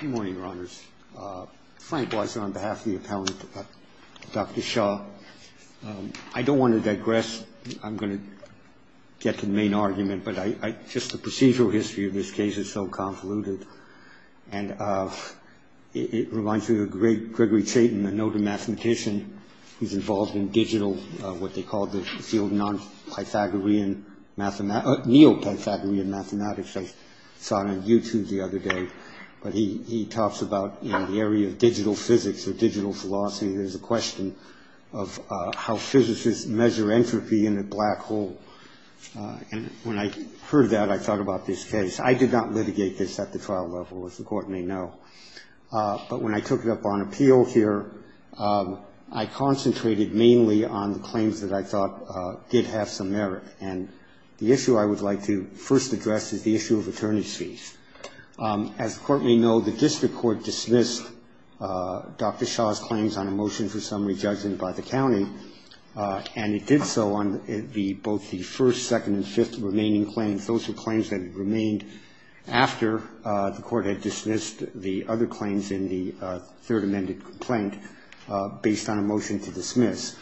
Good morning, Your Honors. Frank Boyser on behalf of the appellant, Dr. Shah. I don't want to digress. I'm going to get to the main argument, but just the procedural history of this case is so convoluted. And it reminds me of the great Gregory Chaitin, the noted mathematician who's involved in digital, what they called the field of non-Pythagorean, neo-Pythagorean mathematics. I saw it on YouTube the other day. But he talks about the area of digital physics or digital philosophy. There's a question of how physicists measure entropy in a black hole. And when I heard that, I thought about this case. I did not litigate this at the trial level, as the court may know. But when I took it up on appeal here, I concentrated mainly on the claims that I thought did have some merit. And the issue I would like to first address is the issue of attorneys fees. As the court may know, the district court dismissed Dr. Shah's claims on a motion for summary judgment by the county. And it did so on the both the first, second and fifth remaining claims. Those were claims that had remained after the court had dismissed the other claims in the third amended complaint based on a motion to dismiss.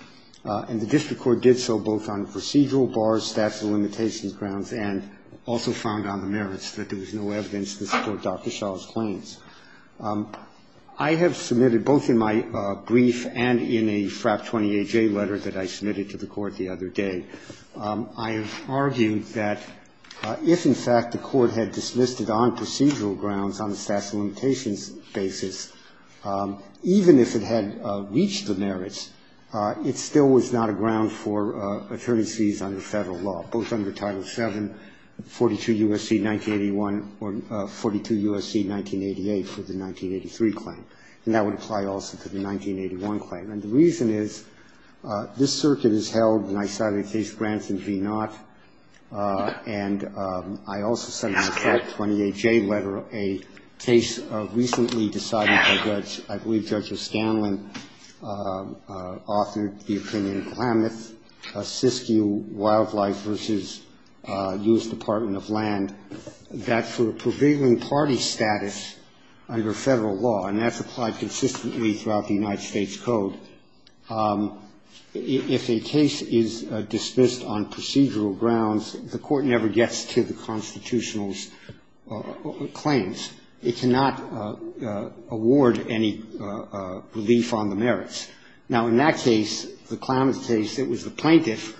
And the district court did so both on procedural bars, statute of limitations grounds, and also found on the merits that there was no evidence to support Dr. Shah's claims. I have submitted both in my brief and in a FRAP 28-J letter that I submitted to the court the other day, I have argued that if, in fact, the court had dismissed it on procedural grounds on a statute of limitations basis, even if it had reached the merits, it still was not a ground for attorney fees under Federal law, both under Title VII, 42 U.S.C. 1981 or 42 U.S.C. 1988 for the 1983 claim. And that would apply also to the 1981 claim. And the reason is this circuit is held, and I cited Case Branson v. Knott, and I also submitted a FRAP 28-J letter, a case recently decided by Judge, I believe Judge O'Scanlan, authored the opinion in Klamath, Siskiyou Wildlife v. U.S. Department of Land, that for a prevailing party status under Federal law, and that's applied consistently throughout the United States Code, if a case is dismissed on procedural grounds, the court never gets to the Constitutional's claims. It cannot award any relief on the merits. Now, in that case, the Klamath case, it was the plaintiff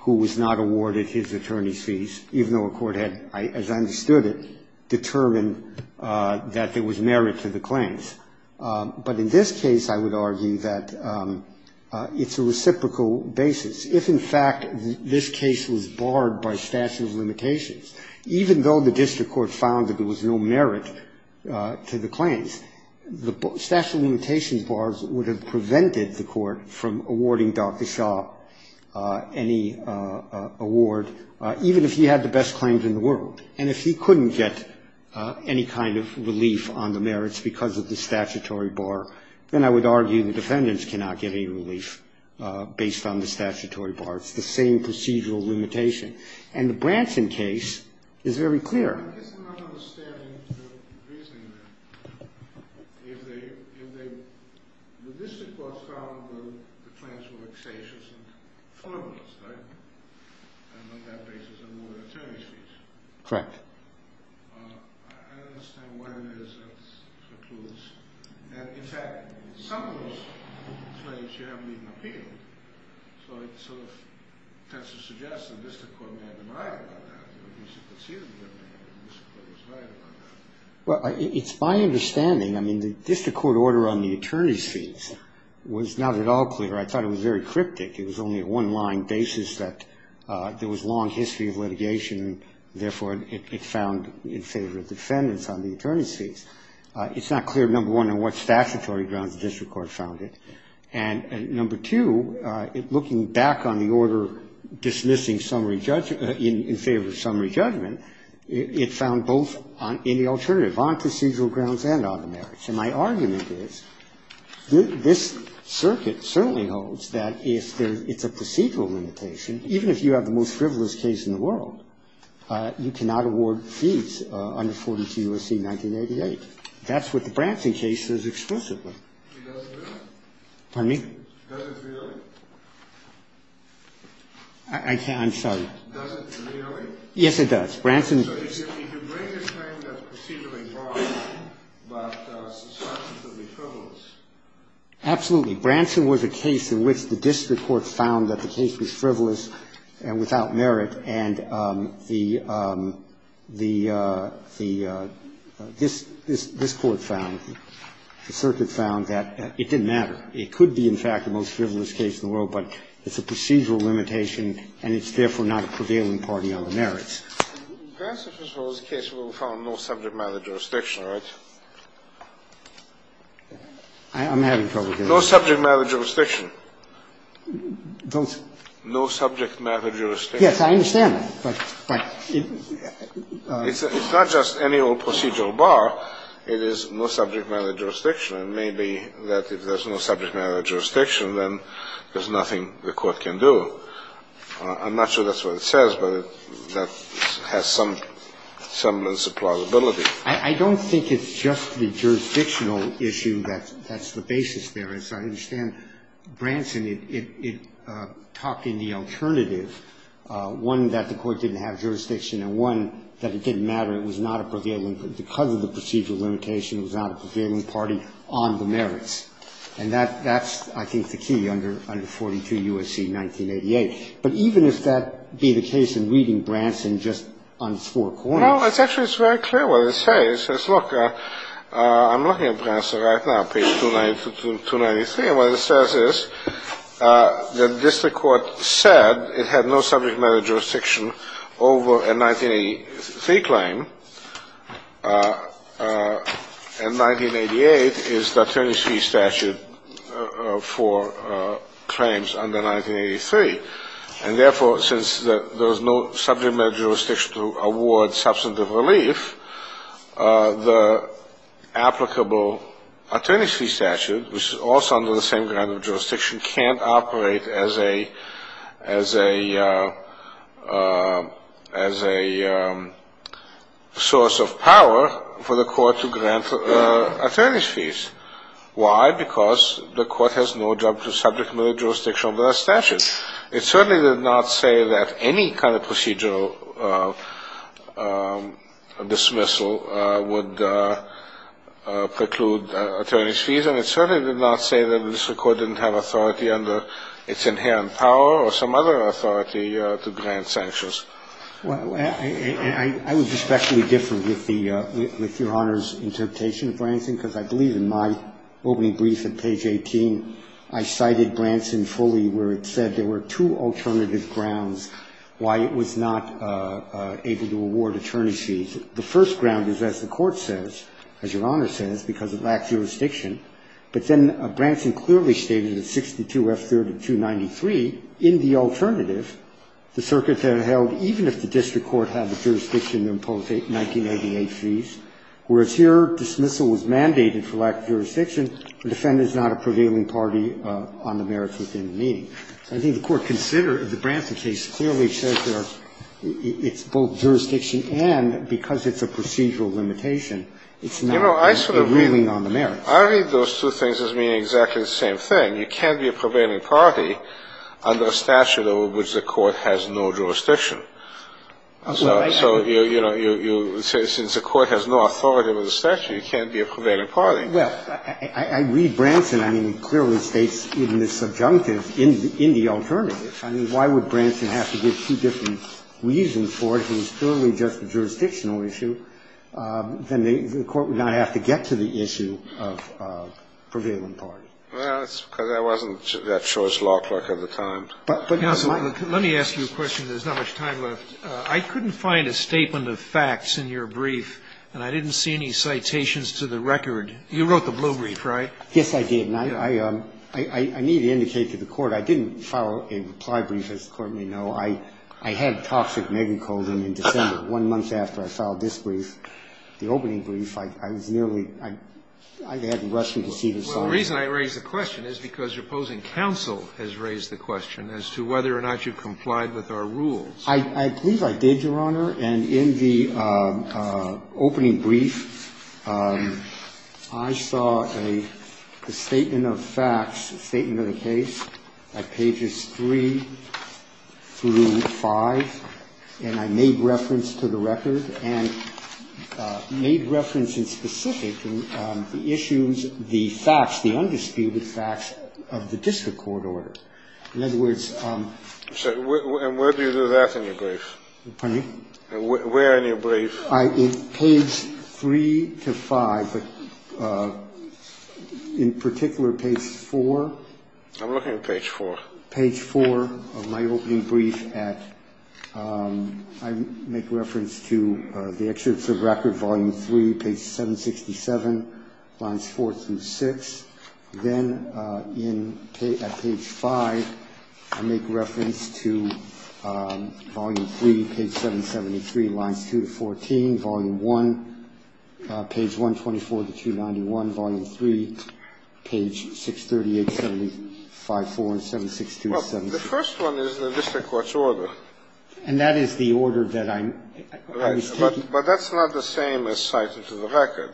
who was not awarded his attorney's fees, even though a court had, as I understood it, determined that there was merit to the claims. But in this case, I would argue that it's a reciprocal basis. If, in fact, this case was barred by statute of limitations, even though the district court found that there was no merit to the claims, the statute of limitations bars would have prevented the court from awarding Dr. Shaw any award, even if he had the best claims in the world. And if he couldn't get any kind of relief on the merits because of the statutory bar, then I would argue the defendants cannot get any relief based on the statutory bar. It's the same procedural limitation. And the Branson case is very clear. I'm just not understanding the reasoning there. If the district court found that the claims were extasious and formless, right? And on that basis, they awarded attorney's fees. Correct. I don't understand what it is that concludes. And, in fact, some of those claims you haven't even appealed. So it sort of tends to suggest the district court may have denied about that. Well, it's my understanding. I mean, the district court order on the attorney's fees was not at all clear. I thought it was very cryptic. It was only a one-line basis that there was long history of litigation, and, therefore, it found in favor of defendants on the attorney's fees. It's not clear, number one, on what statutory grounds the district court found it. And, number two, looking back on the order dismissing summary judge in favor of summary judge, it found both on any alternative, on procedural grounds and on the merits. And my argument is this circuit certainly holds that if there's ‑‑ it's a procedural limitation. Even if you have the most frivolous case in the world, you cannot award fees under 42 U.S.C. 1988. That's what the Branson case says explicitly. She doesn't feel it. Pardon me? She doesn't feel it. I'm sorry. She doesn't feel it. Yes, it does. Branson ‑‑ So if you bring a claim that's procedurally wrong, but substantially frivolous. Absolutely. Branson was a case in which the district court found that the case was frivolous and without merit, and the ‑‑ this court found, the circuit found that it didn't matter. It could be, in fact, the most frivolous case in the world, but it's a procedural limitation, and it's therefore not a prevailing part in the other merits. Branson, first of all, is a case where we found no subject matter jurisdiction, right? I'm having trouble hearing you. No subject matter jurisdiction. Don't ‑‑ No subject matter jurisdiction. Yes, I understand that, but ‑‑ It's not just any old procedural bar. It is no subject matter jurisdiction, and maybe that if there's no subject matter jurisdiction, then there's nothing the court can do. I'm not sure that's what it says, but that has some semblance of plausibility. I don't think it's just the jurisdictional issue that's the basis there. As I understand, Branson, it talked in the alternative, one, that the court didn't have jurisdiction, and one, that it didn't matter, it was not a prevailing ‑‑ because of the procedural limitation, it was not a prevailing party on the merits. And that's, I think, the key under 42 U.S.C. 1988. But even if that be the case in reading Branson just on its four corners ‑‑ Well, it's actually ‑‑ it's very clear what it says. It says, look, I'm looking at Branson right now, page 293, and what it says is that district court said it had no subject matter jurisdiction over a 1983 claim, and 1988 is the attorney's fee statute for claims under 1983. And therefore, since there was no subject matter jurisdiction to award substantive relief, the applicable attorney's fee statute, which is also under the same kind of jurisdiction, can't operate as a source of power for the court to grant attorney's fees. Why? Because the court has no job to subject matter jurisdiction over that statute. It certainly did not say that any kind of procedural dismissal would preclude attorney's fees, and it certainly did not say that the district court didn't have authority under its inherent power or some other authority to grant sanctions. Well, I was especially different with the ‑‑ with Your Honor's interpretation of Branson, because I believe in my opening brief at page 18, I cited Branson fully where it said there were two alternative grounds why it was not able to award attorney's fees. The first ground is, as the Court says, as Your Honor says, because it lacked jurisdiction. But then Branson clearly stated in 62F3293, in the alternative, the circuit that it held, even if the district court had the jurisdiction to impose 1988 fees, whereas here dismissal was mandated for lack of jurisdiction, the defendant is not a prevailing party on the merits within the meeting. I think the Court considered the Branson case clearly says there it's both jurisdiction and because it's a procedural limitation, it's not a ruling on the merits. You know, I sort of ‑‑ I read those two things as meaning exactly the same thing. You can't be a prevailing party under a statute over which the court has no jurisdiction. So, you know, since the court has no authority over the statute, you can't be a prevailing party. Well, I read Branson, I mean, clearly states in the subjunctive, in the alternative. I mean, why would Branson have to give two different reasons for it if it was purely just a jurisdictional issue? Then the court would not have to get to the issue of prevailing party. Well, it's because I wasn't that surest law clerk at the time. But, counsel, let me ask you a question. There's not much time left. I couldn't find a statement of facts in your brief, and I didn't see any citations to the record. You wrote the blue brief, right? Yes, I did. And I need to indicate to the Court I didn't file a reply brief, as the Court may know. I had toxic megacosm in December, one month after I filed this brief. The opening brief, I was nearly ‑‑ I hadn't rushed to see the sign. Well, the reason I raised the question is because your opposing counsel has raised the question as to whether or not you complied with our rules. I believe I did, Your Honor. And in the opening brief, I saw a statement of facts, a statement of the case at pages 3 through 5, and I made reference to the record and made reference in specific to the issues, the facts, the undisputed facts of the district court order. In other words ‑‑ And where do you do that in your brief? Pardon me? Where in your brief? In page 3 to 5, but in particular, page 4. I'm looking at page 4. Page 4 of my opening brief at ‑‑ I make reference to the excerpts of record, volume 3, page 767, lines 4 through 6. Then in ‑‑ at page 5, I make reference to volume 3, page 773, lines 2 to 14, volume 1, page 124 to 291, volume 3, page 638, 754 and 762. Well, the first one is the district court's order. And that is the order that I'm ‑‑ But that's not the same as citing to the record,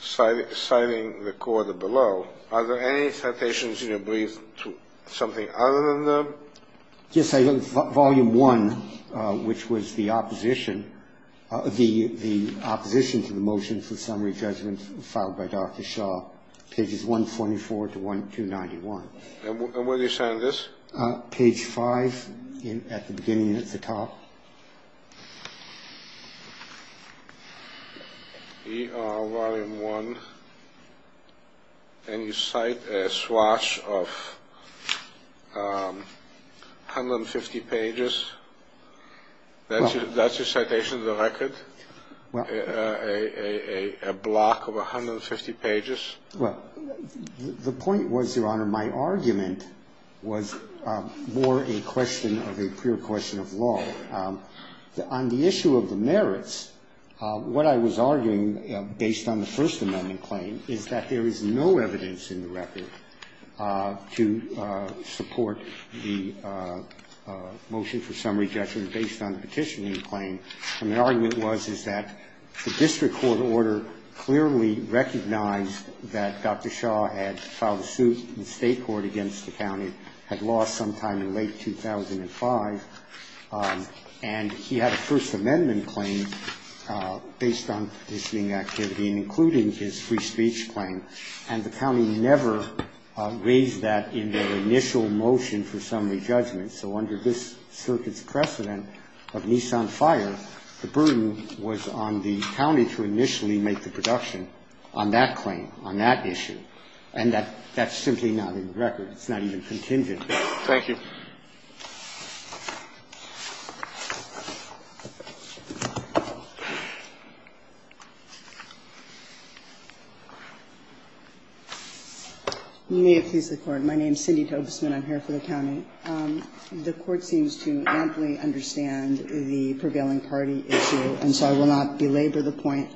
citing the court below. Are there any citations in your brief to something other than them? Yes. Volume 1, which was the opposition, the opposition to the motion for summary judgment filed by Dr. Shaw, pages 144 to 291. And where do you cite this? Page 5 at the beginning and at the top. Volume 1. And you cite a swatch of 150 pages. That's your citation to the record? A block of 150 pages? Well, the point was, Your Honor, my argument was more a question of a pure question of law. On the issue of the merits, what I was arguing, based on the First Amendment claim, is that there is no evidence in the record to support the motion for summary judgment based on the petitioning claim. And the argument was, is that the district court order clearly recognized that Dr. Shaw had filed a suit in the state court against the county, had lost sometime in late 2005, and he had a First Amendment claim based on petitioning activity and including his free speech claim. And the county never raised that in their initial motion for summary judgment. So under this circuit's precedent of Nissan Fire, the burden was on the county to initially make the production on that claim, on that issue, and that's simply not in the record. It's not even contingent. Thank you. You may have pleased the Court. My name is Cindy Tobesman. I'm here for the county. The Court seems to amply understand the prevailing party issue, and so I will not belabor the point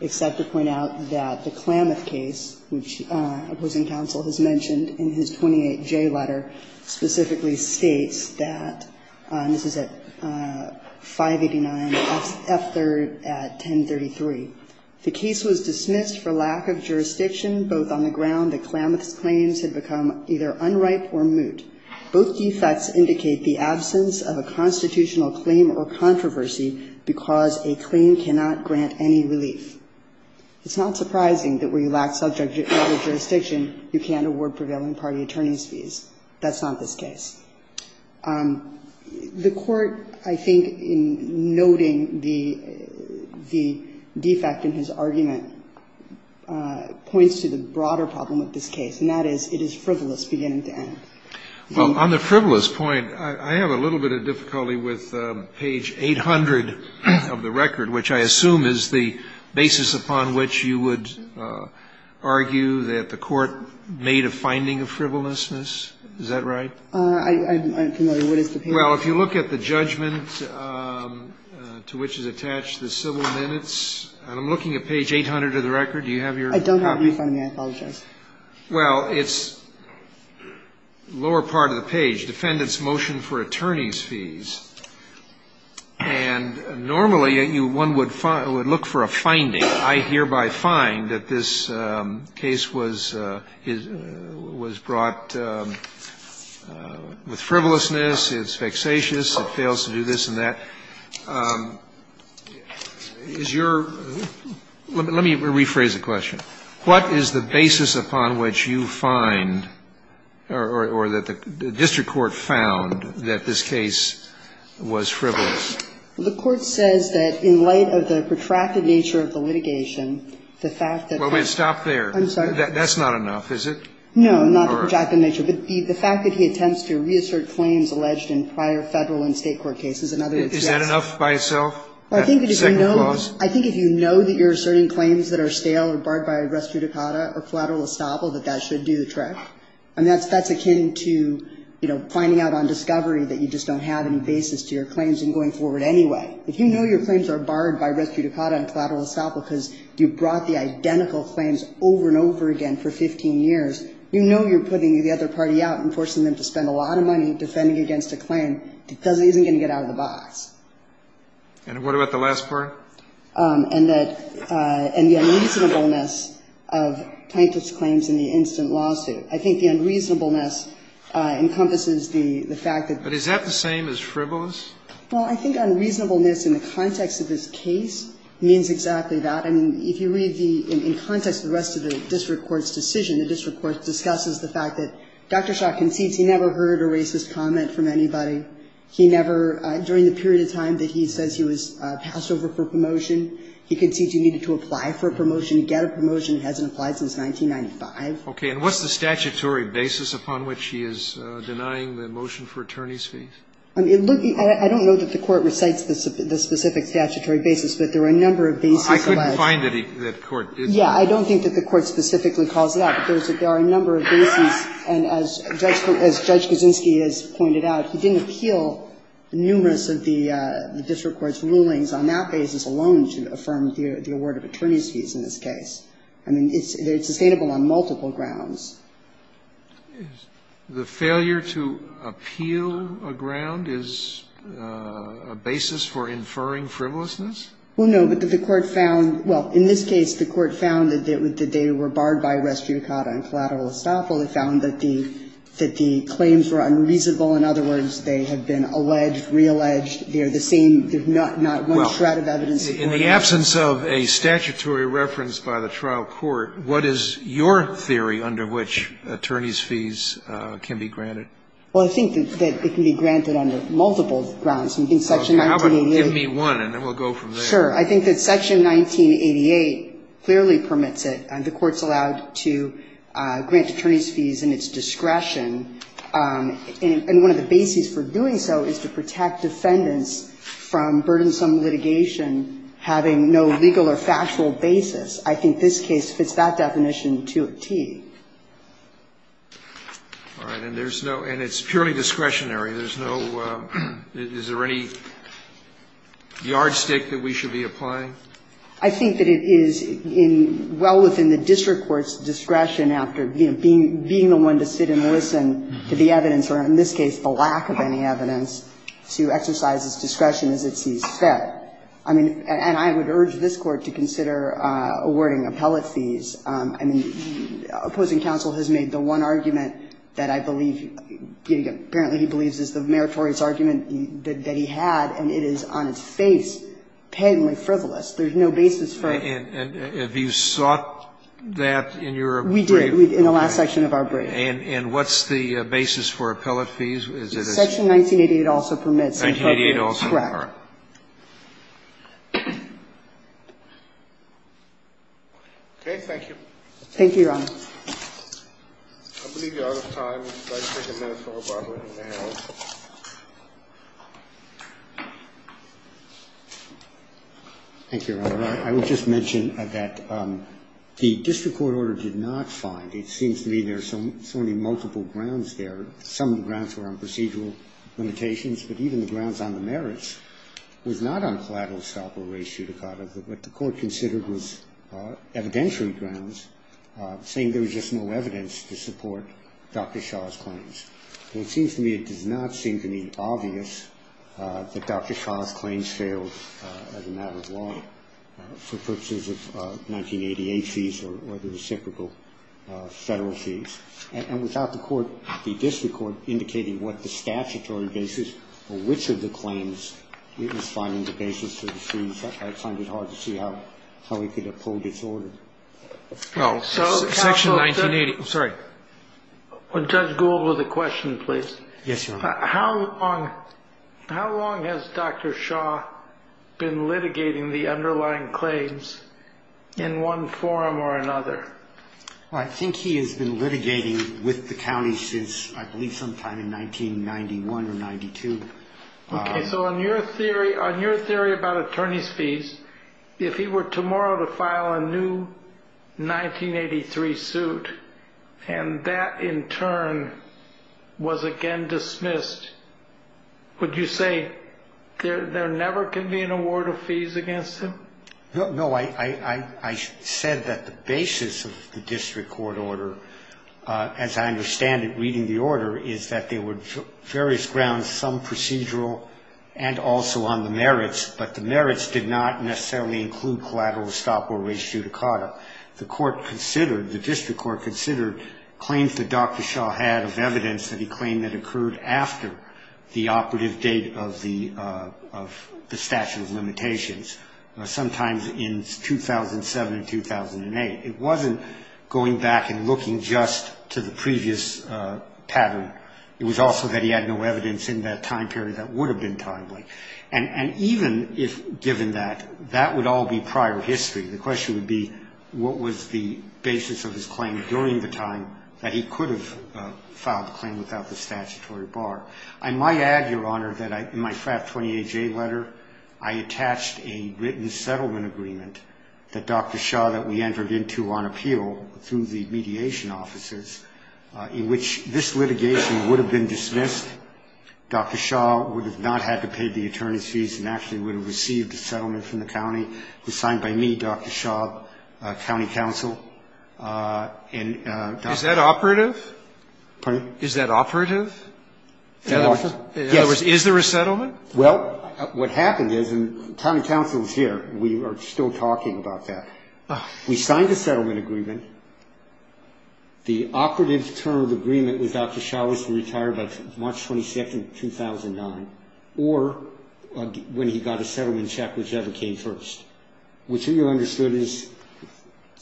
except to point out that the Klamath case, which opposing counsel has mentioned in his 28J letter, specifically states that, and this is at 589, F3rd at 1033, the case was dismissed for lack of jurisdiction, both on the ground that Klamath's defects indicate the absence of a constitutional claim or controversy because a claim cannot grant any relief. It's not surprising that where you lack subject matter jurisdiction, you can't award prevailing party attorneys' fees. That's not this case. The Court, I think, in noting the defect in his argument, points to the broader problem of this case, and that is it is frivolous beginning to end. Well, on the frivolous point, I have a little bit of difficulty with page 800 of the record, which I assume is the basis upon which you would argue that the Court made a finding of frivolousness. Is that right? I'm not familiar. What is the page? Well, if you look at the judgment to which is attached the civil minutes, and I'm looking at page 800 of the record. Do you have your copy? I don't have it in front of me. I apologize. Well, it's lower part of the page, defendant's motion for attorney's fees. And normally, one would look for a finding. I hereby find that this case was brought with frivolousness. It's vexatious. It fails to do this and that. What is the basis upon which you find or that the district court found that this case was frivolous? Well, the Court says that in light of the protracted nature of the litigation, the fact that that's not enough, is it? No, not the protracted nature, but the fact that he attempts to reassert claims alleged in prior Federal and State court cases. Is that enough by itself? I think if you know that you're asserting claims that are stale or barred by our res judicata or collateral estoppel, that that should do the trick. And that's akin to, you know, finding out on discovery that you just don't have any basis to your claims and going forward anyway. If you know your claims are barred by res judicata and collateral estoppel because you brought the identical claims over and over again for 15 years, you know you're putting the other party out and forcing them to spend a lot of money defending against a claim because it isn't going to get out of the box. And what about the last part? And that the unreasonableness of Plaintiff's claims in the instant lawsuit. I think the unreasonableness encompasses the fact that the plaintiff's claims in the instant lawsuit. But is that the same as frivolous? Well, I think unreasonableness in the context of this case means exactly that. I mean, if you read the – in context of the rest of the district court's decision, the district court discusses the fact that Dr. Schott concedes he never heard a racist comment from anybody. He never – during the period of time that he says he was passed over for promotion, he concedes he needed to apply for a promotion, get a promotion. It hasn't applied since 1995. Okay. And what's the statutory basis upon which he is denying the motion for attorney's fee? I don't know that the Court recites the specific statutory basis, but there are a number of bases. I couldn't find any that the Court did say. Yeah. I don't think that the Court specifically calls it out. But there are a number of bases. And as Judge Kaczynski has pointed out, he didn't appeal numerous of the district court's rulings on that basis alone to affirm the award of attorney's fees in this case. I mean, it's sustainable on multiple grounds. The failure to appeal a ground is a basis for inferring frivolousness? Well, no, but the Court found – well, in this case, the Court found that they were barred by res judicata and collateral estoppel. It found that the claims were unreasonable. In other words, they have been alleged, realleged. They are the same. There's not one shred of evidence. Well, in the absence of a statutory reference by the trial court, what is your theory under which attorney's fees can be granted? Well, I think that it can be granted under multiple grounds. I think Section 1988. Okay. How about give me one, and then we'll go from there. I think that Section 1988 clearly permits it. The Court's allowed to grant attorney's fees in its discretion. And one of the bases for doing so is to protect defendants from burdensome litigation having no legal or factual basis. I think this case fits that definition to a T. All right. And there's no – and it's purely discretionary. There's no – is there any yardstick that we should be applying? I think that it is in – well within the district court's discretion after being the one to sit and listen to the evidence, or in this case the lack of any evidence, to exercise its discretion as it sees fit. I mean, and I would urge this Court to consider awarding appellate fees. I mean, opposing counsel has made the one argument that I believe, apparently he believes is the meritorious argument that he had, and it is on its face patently frivolous. There's no basis for it. And have you sought that in your brief? We did, in the last section of our brief. And what's the basis for appellate fees? Is it a section? Section 1988 also permits. Correct. Okay. Thank you. Thank you, Your Honor. I believe you're out of time. I'd like to take a minute for rebuttal if you may. Thank you, Your Honor. I would just mention that the district court order did not find – it seems to me there are so many multiple grounds there. Some of the grounds were on procedural limitations, but even the grounds on the merits was not on collateral estoppel, res judicata. What the court considered was evidentiary grounds, saying there was just no evidence to support Dr. Shah's claims. And it seems to me – it does not seem to me obvious that Dr. Shah's claims failed as a matter of law for purposes of 1988 fees or the reciprocal federal fees. And without the court – the district court indicating what the statutory basis for which of the claims it was finding the basis for the fees, I find it hard to see how we could have pulled this order. Section 1980 – sorry. Judge Gould with a question, please. Yes, Your Honor. How long – how long has Dr. Shah been litigating the underlying claims in one forum or another? Well, I think he has been litigating with the county since I believe sometime in 1991 or 92. Okay, so on your theory – on your theory about attorney's fees, if he were tomorrow to file a new 1983 suit and that in turn was again dismissed, would you say there never could be an award of fees against him? No, I said that the basis of the district court order, as I understand it reading the order, is that there were various grounds, some procedural and also on the merits, but the merits did not necessarily include collateral, estoppel, res judicata. The court considered – the district court considered claims that Dr. Shah had of evidence that he claimed that occurred after the operative date of the statute of limitations. Sometimes in 2007 and 2008. It wasn't going back and looking just to the previous pattern. It was also that he had no evidence in that time period that would have been timely. And even if given that, that would all be prior history. The question would be what was the basis of his claim during the time that he could have filed the claim without the statutory bar. I might add, Your Honor, that in my FRAP 28-J letter, I attached a written settlement agreement that Dr. Shah that we entered into on appeal through the mediation offices in which this litigation would have been dismissed. Dr. Shah would have not had to pay the attorney's fees and actually would have received a settlement from the county. It was signed by me, Dr. Shah, county counsel. Is that operative? Pardon me? Is that operative? Operative? Yes. In other words, is there a settlement? Well, what happened is, and county counsel is here. We are still talking about that. We signed a settlement agreement. The operative term of the agreement was Dr. Shah was to retire by March 22, 2009, or when he got a settlement check, whichever came first. What you understood is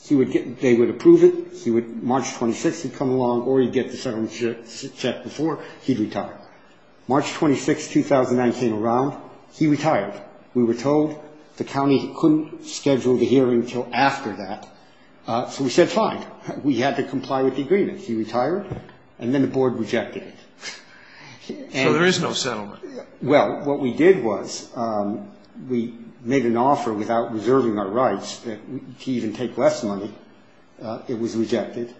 he would get, they would approve it. March 26 would come along, or he'd get the settlement check before, he'd retire. March 26, 2009 came around, he retired. We were told the county couldn't schedule the hearing until after that. So we said, fine. We had to comply with the agreement. He retired, and then the board rejected it. So there is no settlement. Well, what we did was we made an offer without reserving our rights to even take less money. It was rejected.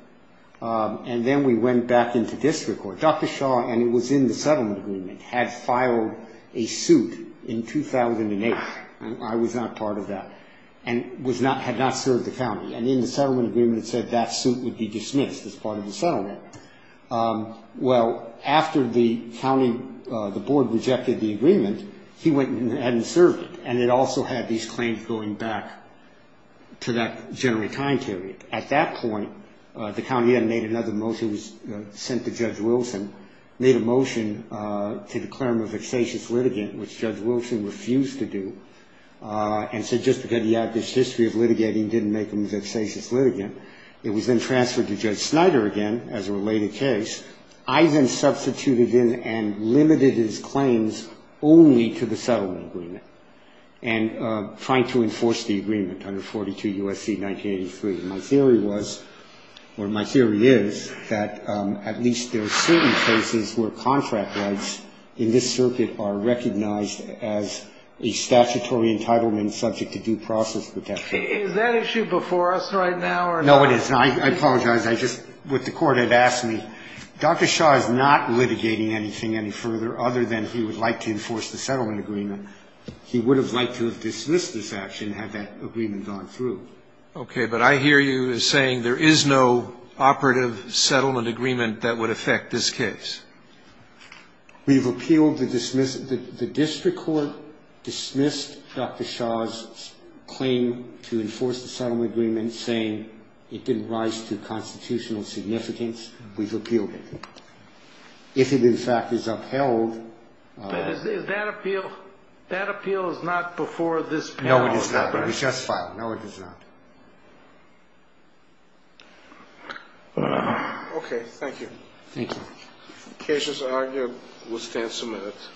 And then we went back into district court. Dr. Shah, and it was in the settlement agreement, had filed a suit in 2008. I was not part of that. And was not, had not served the county. And in the settlement agreement it said that suit would be dismissed as part of the settlement. Well, after the county, the board rejected the agreement, he went and served it. And it also had these claims going back to that generally time period. At that point, the county had made another motion, was sent to Judge Wilson, made a motion to declare him a vexatious litigant, which Judge Wilson refused to do, and said just because he had this history of litigating didn't make him a vexatious litigant. It was then transferred to Judge Snyder again as a related case. I then substituted in and limited his claims only to the settlement agreement, and trying to enforce the agreement under 42 U.S.C. 1983. And my theory was, or my theory is, that at least there are certain cases where contract rights in this circuit are recognized as a statutory entitlement subject to due process protection. Is that issue before us right now or not? No, it is not. I apologize. I just, what the court had asked me, Dr. Shaw is not litigating anything any further other than he would like to enforce the settlement agreement. He would have liked to have dismissed this action had that agreement gone through. Okay. But I hear you as saying there is no operative settlement agreement that would affect this case. We've appealed the dismissal. The district court dismissed Dr. Shaw's claim to enforce the settlement agreement, saying it didn't rise to constitutional significance. We've appealed it. If it, in fact, is upheld... But is that appeal, that appeal is not before this panel of experts. No, it is not. We just filed. No, it is not. Okay. Thank you. Thank you. The case is argued. We'll stand some minutes.